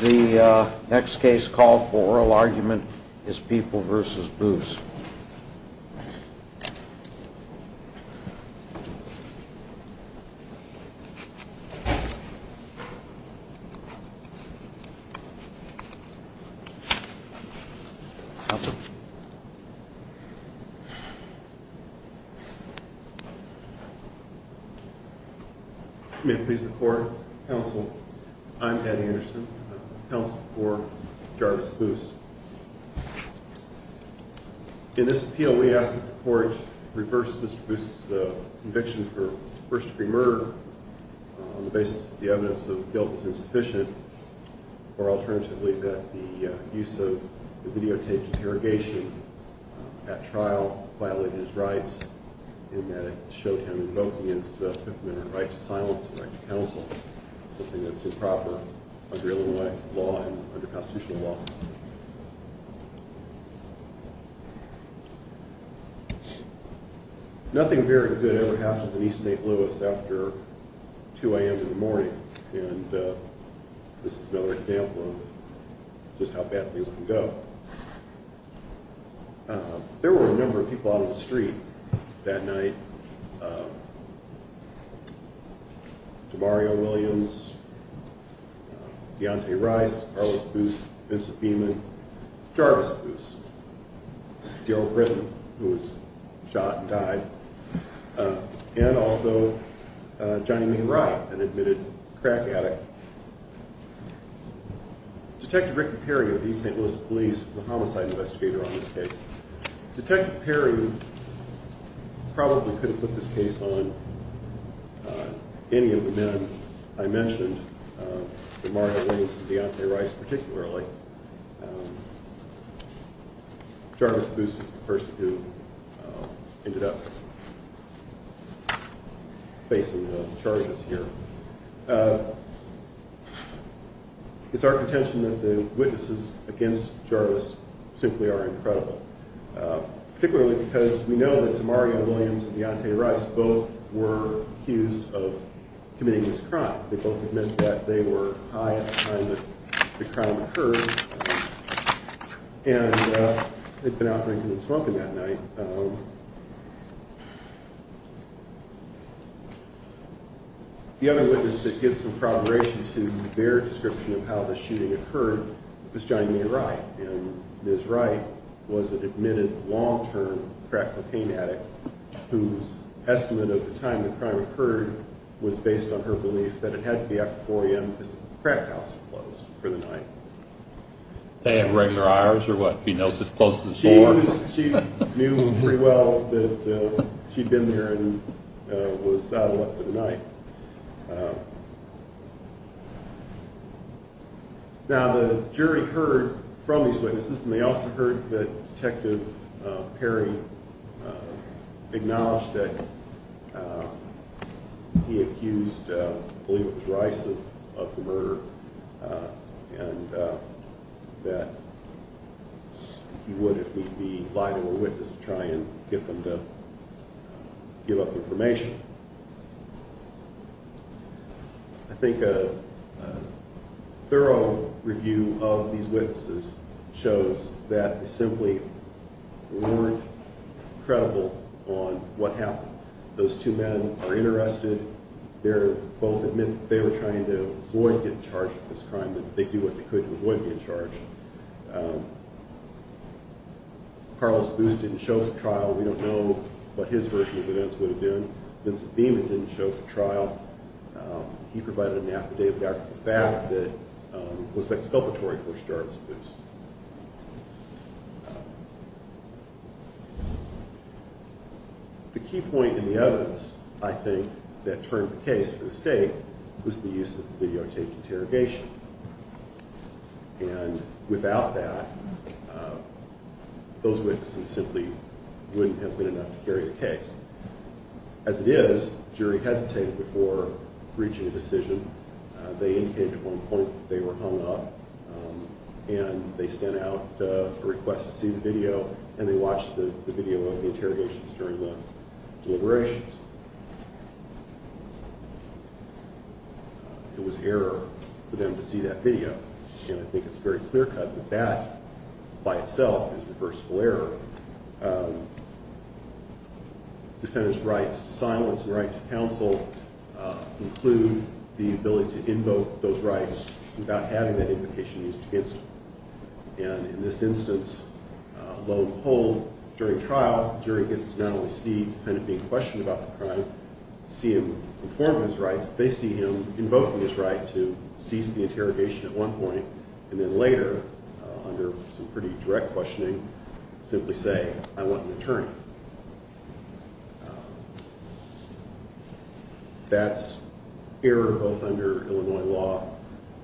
The next case called for oral argument is People v. Boose. I'm Patty Anderson, counsel for Jarvis v. Boose. In this appeal, we ask that the court reverse Mr. Boose's conviction for first-degree murder on the basis that the evidence of guilt was insufficient, or alternatively, that the use of the videotaped interrogation at trial violated his rights in that it showed him invoking his Fifth Amendment right to silence and right to counsel, something that's improper under constitutional law. Nothing very good ever happens in East St. Louis after 2 a.m. in the morning. And this is another example of just how bad things can go. There were a number of people out on the street that night. DeMario Williams, Deontay Rice, Carlos Boose, Vincent Beeman, Jarvis Boose, Daryl Britton, who was shot and died, and also Johnny May Wright, an admitted crack addict. Detective Rick Perry of the East St. Louis Police was the homicide investigator on this case. Detective Perry probably could have put this case on any of the men I mentioned, DeMario Williams and Deontay Rice particularly. Jarvis Boose was the person who ended up facing the charges here. It's our contention that the witnesses against Jarvis simply are incredible, particularly because we know that DeMario Williams and Deontay Rice both were accused of committing this crime. They both admit that they were high at the time that the crime occurred and had been out drinking and smoking that night. The other witness that gives some corroboration to their description of how the shooting occurred was Johnny May Wright. And Ms. Wright was an admitted long-term crack cocaine addict whose estimate of the time the crime occurred was based on her belief that it had to be after 4 a.m. because the crack house was closed for the night. They have regular hours or what? Do you know if it's close to 4? She knew pretty well that she'd been there and was out of luck for the night. Now the jury heard from these witnesses and they also heard that Detective Perry acknowledged that he accused, I believe it was Rice, of the murder and that he would if he'd be liable a witness to try and get them to give up information. I think a thorough review of these witnesses shows that they simply weren't credible on what happened. Those two men are interested. They both admit that they were trying to avoid getting charged for this crime. They did what they could to avoid being charged. Carlos Boos didn't show for trial. We don't know what his version of events would have been. Vincent Beeman didn't show for trial. He provided an affidavit after the fact that it was exculpatory for Charles Boos. The key point in the evidence, I think, that turned the case for the state was the use of the videotaped interrogation. Without that, those witnesses simply wouldn't have been enough to carry the case. As it is, the jury hesitated before reaching a decision. They indicated at one point that they were hung up and they sent out a request to see the video, and they watched the video of the interrogations during the deliberations. It was error for them to see that video. I think it's very clear-cut that that, by itself, is reversible error. Defenders' rights to silence and right to counsel include the ability to invoke those rights without having that invocation used against them. In this instance, lo and behold, during trial, the jury gets to not only see the defendant being questioned about the crime, see him inform of his rights, they see him invoking his right to cease the interrogation at one point, and then later, under some pretty direct questioning, simply say, I want an attorney. That's error both under Illinois law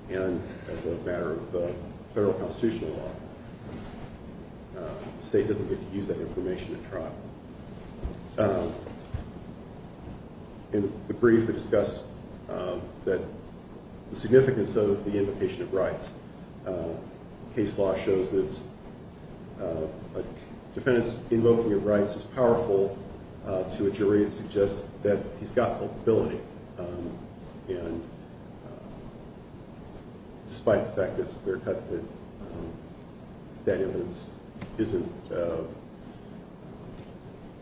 and as a matter of federal constitutional law. The state doesn't get to use that information at trial. In the brief, we discuss the significance of the invocation of rights. Case law shows that a defendant's invoking of rights is powerful to a jury. It suggests that he's got culpability. Despite the fact that it's clear-cut, that evidence isn't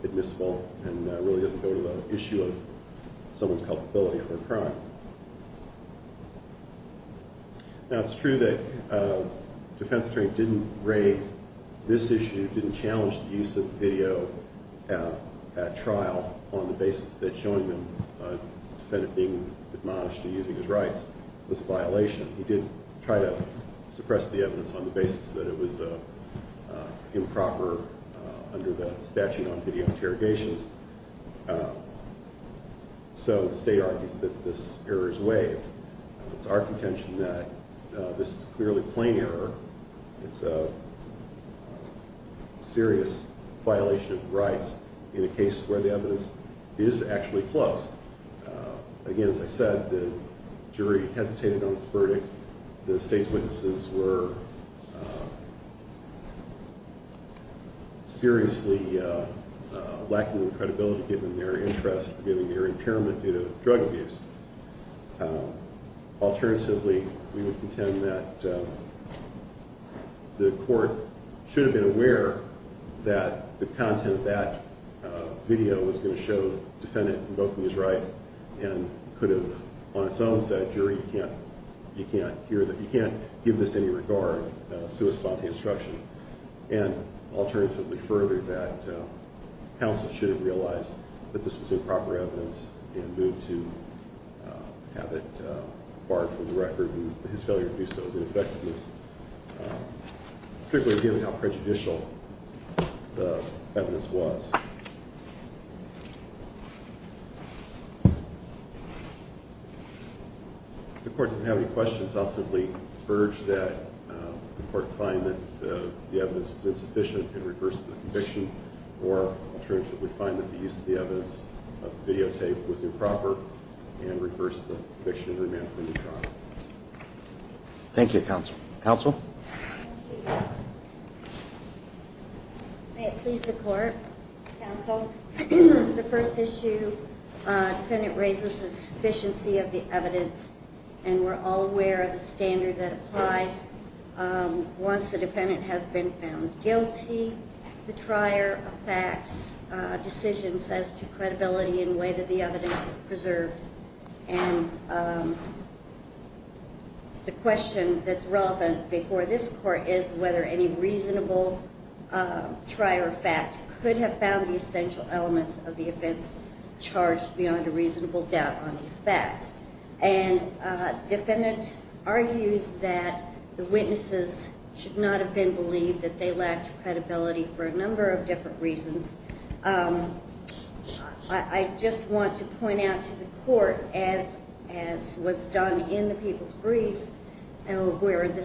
admissible and really doesn't go to the issue of someone's culpability for a crime. Now, it's true that the defense attorney didn't raise this issue, didn't challenge the use of video at trial on the basis that showing the defendant being admonished for using his rights was a violation. He did try to suppress the evidence on the basis that it was improper under the statute on video interrogations. So the state argues that this error is waived. It's our contention that this is clearly plain error. It's a serious violation of rights in a case where the evidence is actually close. Again, as I said, the jury hesitated on its verdict. The state's witnesses were seriously lacking in credibility given their interest, given their impairment due to drug abuse. Alternatively, we would contend that the court should have been aware that the content of that video was going to show the defendant invoking his rights and could have, on its own side, said, jury, you can't give this any regard, so respond to the instruction. And alternatively, further, that counsel should have realized that this was improper evidence and moved to have it barred from the record. And his failure to do so is ineffective, particularly given how prejudicial the evidence was. If the court doesn't have any questions, I'll simply urge that the court find that the evidence was insufficient and reverse the conviction, or alternatively, find that the use of the evidence of the videotape was improper and reverse the conviction and remand him to trial. Thank you, counsel. Counsel? May it please the court, counsel. The first issue, defendant raises the sufficiency of the evidence, and we're all aware of the standard that applies. Once a defendant has been found guilty, the trier affects decisions as to credibility in the way that the evidence is preserved. And the question that's relevant before this court is whether any reasonable trier fact could have found the essential elements of the offense charged beyond a reasonable doubt on these facts. And defendant argues that the witnesses should not have been believed, that they lacked credibility for a number of different reasons. I just want to point out to the court, as was done in the People's Brief, where the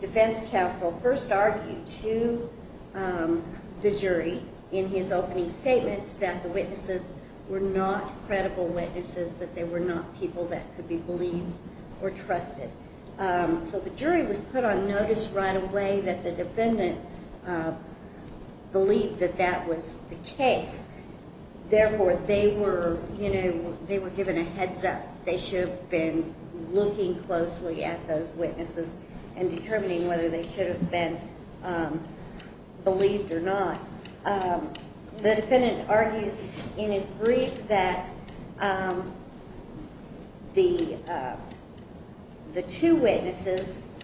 defense counsel first argued to the jury in his opening statements that the witnesses were not credible witnesses, that they were not people that could be believed or trusted. So the jury was put on notice right away that the defendant believed that that was the case. Therefore, they were, you know, they were given a heads up. They should have been looking closely at those witnesses and determining whether they should have been believed or not. The defendant argues in his brief that the two witnesses,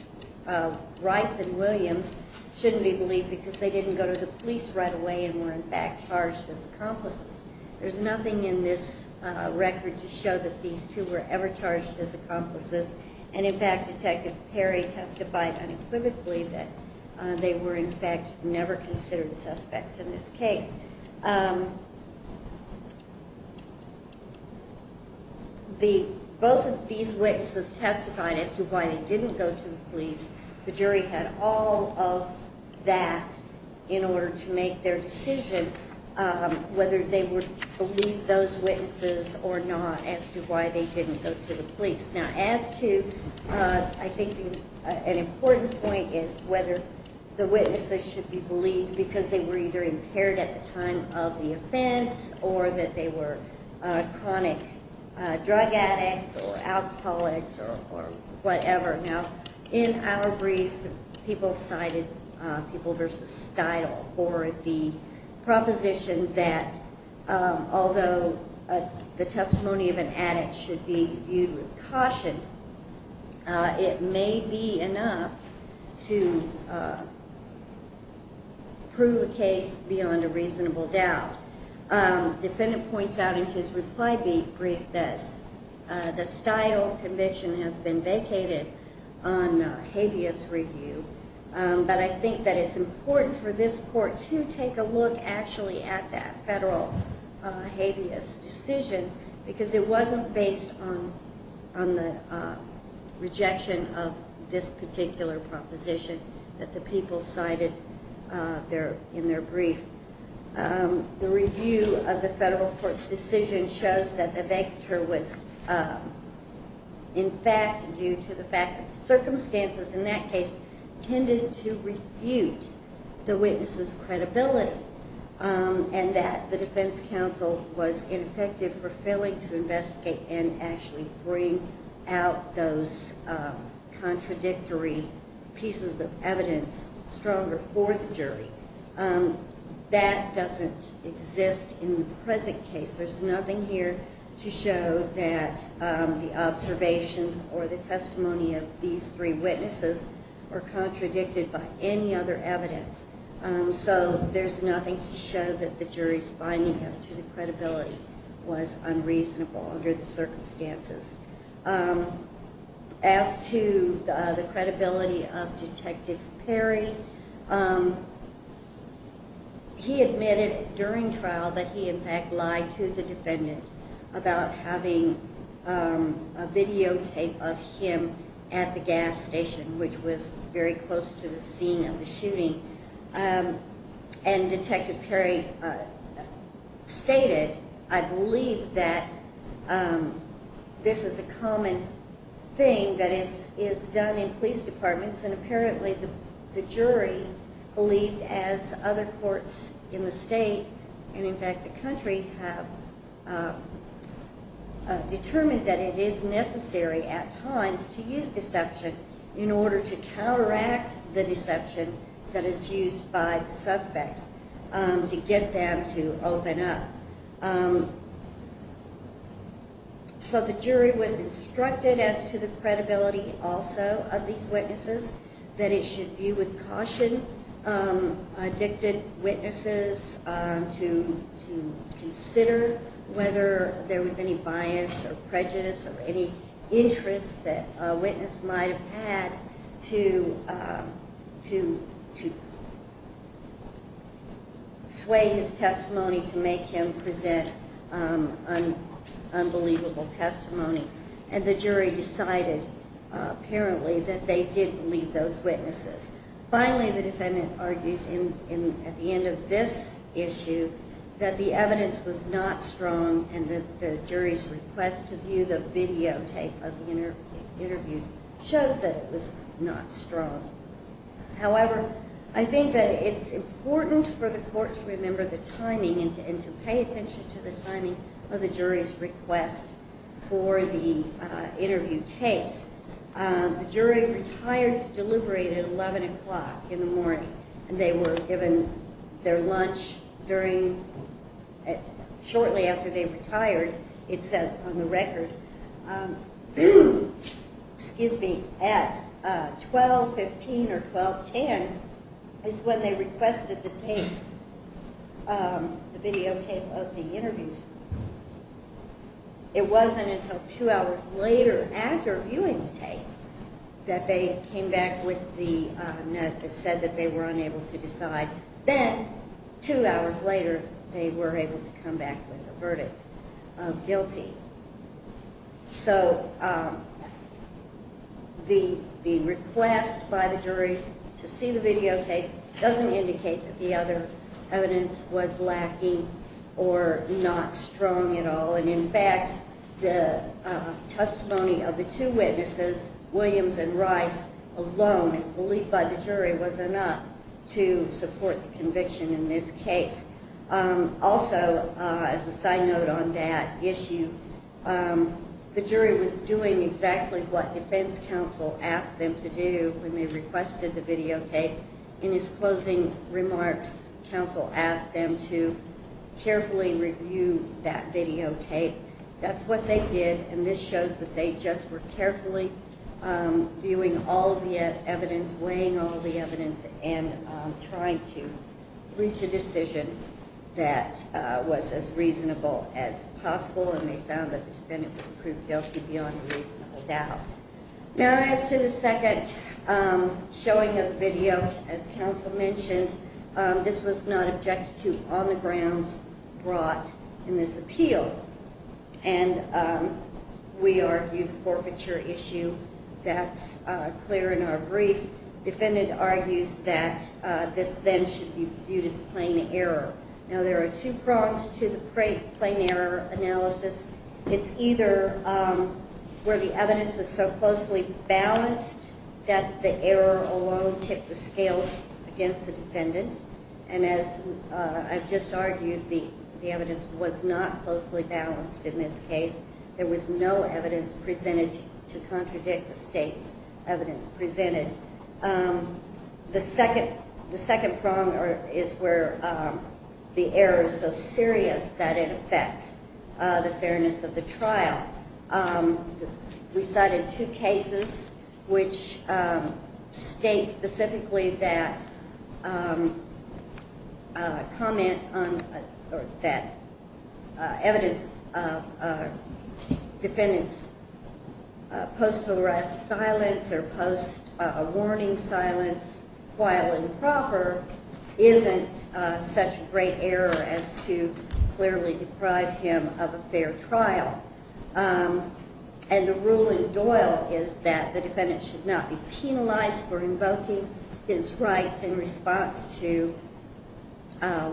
Rice and Williams, shouldn't be believed because they didn't go to the police right away and were, in fact, charged as accomplices. There's nothing in this record to show that these two were ever charged as accomplices. And, in fact, Detective Perry testified unequivocally that they were, in fact, never considered suspects in this case. Both of these witnesses testified as to why they didn't go to the police. The jury had all of that in order to make their decision whether they would believe those witnesses or not as to why they didn't go to the police. Now, as to, I think, an important point is whether the witnesses should be believed because they were either impaired at the time of the offense or that they were chronic drug addicts or alcoholics or whatever. Now, in our brief, people cited People v. Steidle for the proposition that although the testimony of an addict should be viewed with caution, it may be enough to prove a case beyond a reasonable doubt. Defendant points out in his reply brief that the Steidle conviction has been vacated on habeas review. But I think that it's important for this court to take a look, actually, at that federal habeas decision because it wasn't based on the rejection of this particular proposition that the people cited in their brief. The review of the federal court's decision shows that the vacature was in fact due to the fact that the circumstances in that case tended to refute the witnesses' credibility and that the defense counsel was ineffective for failing to investigate and actually bring out those contradictory pieces of evidence stronger for the jury. That doesn't exist in the present case. There's nothing here to show that the observations or the testimony of these three witnesses were contradicted by any other evidence. So there's nothing to show that the jury's finding as to the credibility was unreasonable under the circumstances. As to the credibility of Detective Perry, he admitted during trial that he in fact lied to the defendant about having a videotape of him at the gas station, which was very close to the scene of the shooting. And Detective Perry stated, I believe that this is a common thing that is done in police departments and apparently the jury believed, as other courts in the state and in fact the country, have determined that it is necessary at times to use deception in order to counteract the deception that is used by the suspects to get them to open up. So the jury was instructed as to the credibility also of these witnesses, that it should be with caution, addicted witnesses, to consider whether there was any bias or prejudice or any interest that a witness might have had to sway his testimony to make him present unbelievable testimony. And the jury decided apparently that they did believe those witnesses. Finally, the defendant argues at the end of this issue that the evidence was not strong and that the jury's request to view the videotape of the interviews shows that it was not strong. However, I think that it's important for the court to remember the timing and to pay attention to the timing of the jury's request for the interview tapes. The jury retired to deliberate at 11 o'clock in the morning and they were given their lunch during, shortly after they retired, it says on the record, excuse me, at 12.15 or 12.10 is when they requested the tape, the videotape of the interviews. It wasn't until two hours later after viewing the tape that they came back with the note that said that they were unable to decide. Then, two hours later, they were able to come back with a verdict of guilty. So, the request by the jury to see the videotape doesn't indicate that the other evidence was lacking or not strong at all. In fact, the testimony of the two witnesses, Williams and Rice, alone, believed by the jury, was enough to support the conviction in this case. Also, as a side note on that issue, the jury was doing exactly what defense counsel asked them to do when they requested the videotape. In his closing remarks, counsel asked them to carefully review that videotape. That's what they did and this shows that they just were carefully viewing all the evidence, weighing all the evidence, and trying to reach a decision that was as reasonable as possible and they found that the defendant was proved guilty beyond a reasonable doubt. Now, as to the second showing of the video, as counsel mentioned, this was not objected to on the grounds brought in this appeal and we argue forfeiture issue. That's clear in our brief. Defendant argues that this then should be viewed as plain error. Now, there are two prongs to the plain error analysis. It's either where the evidence is so closely balanced that the error alone ticked the scales against the defendant, and as I've just argued, the evidence was not closely balanced in this case. There was no evidence presented to contradict the state's evidence presented. The second prong is where the error is so serious that it affects the fairness of the trial. We cited two cases which state specifically that comment on that evidence that a defendant's post-arrest silence or post-warning silence, while improper, isn't such a great error as to clearly deprive him of a fair trial. And the rule in Doyle is that the defendant should not be penalized for invoking his rights in response to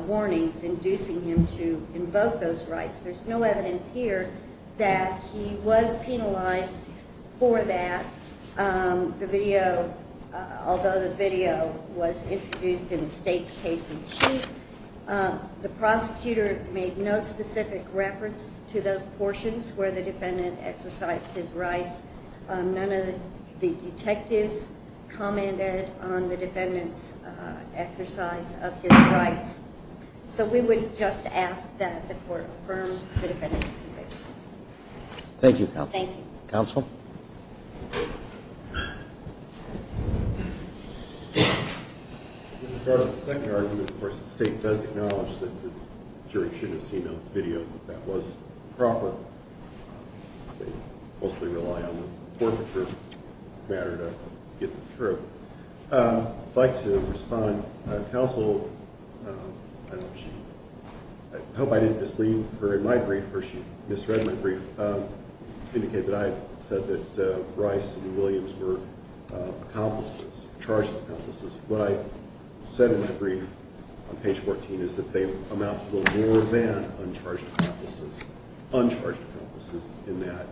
warnings inducing him to invoke those rights. There's no evidence here that he was penalized for that. Although the video was introduced in the state's case in chief, the prosecutor made no specific reference to those portions where the defendant exercised his rights. None of the detectives commented on the defendant's exercise of his rights. So we would just ask that the court affirm the defendant's convictions. Thank you, Counsel. Thank you. Counsel? In regard to the second argument, of course, the state does acknowledge that the jury should have seen those videos, that that was proper. They mostly rely on the forfeiture matter to get them through. I'd like to respond. Counsel, I hope I didn't mislead her in my brief or she misread my brief, indicated that I said that Rice and Williams were accomplices, charged accomplices. What I said in my brief on page 14 is that they amount to a little more than uncharged accomplices, uncharged accomplices in that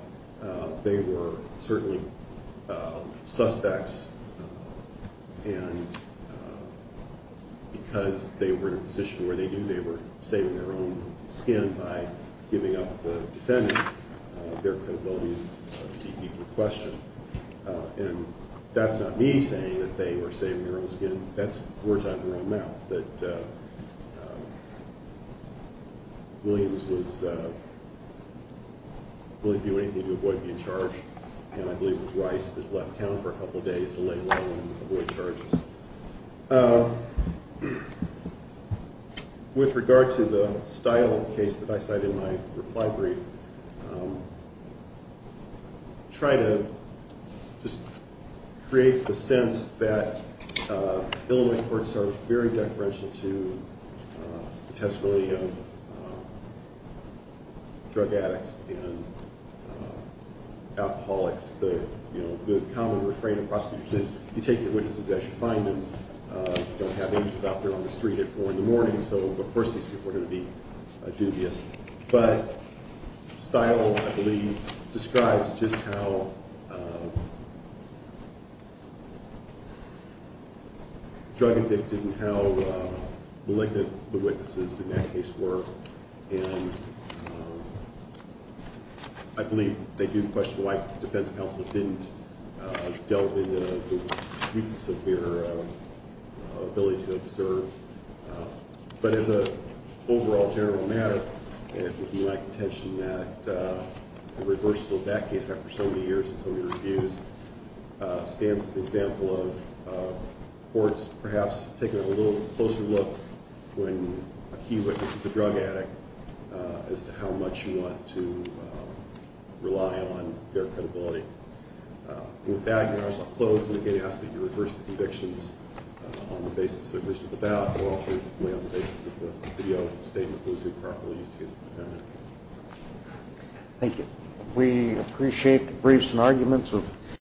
they were certainly suspects, and because they were in a position where they knew they were saving their own skin by giving up the defendant, their credibility is to be questioned. And that's not me saying that they were saving their own skin. That's words out of your own mouth, that Williams was willing to do anything to avoid being charged, and I believe it was Rice that left town for a couple of days to lay low and avoid charges. With regard to the style of the case that I cited in my reply brief, try to just create the sense that Illinois courts are very deferential to the testimony of drug addicts and alcoholics. The common refrain of prosecutors is you take your witnesses as you find them. You don't have angels out there on the street at 4 in the morning, so of course these people are going to be dubious. But style, I believe, describes just how drug addicted and how malignant the witnesses in that case were, and I believe they do question why the defense counsel didn't delve into the weakness of their ability to observe. But as an overall general matter, it would be my contention that the reversal of that case after so many years and so many reviews stands as an example of courts perhaps taking a little closer look when a key witness is a drug addict as to how much you want to rely on their credibility. With that, I'm going to close and again ask that you reverse the convictions on the basis of the ballot or alternatively on the basis of the video statement that was improperly used against the defendant. Thank you.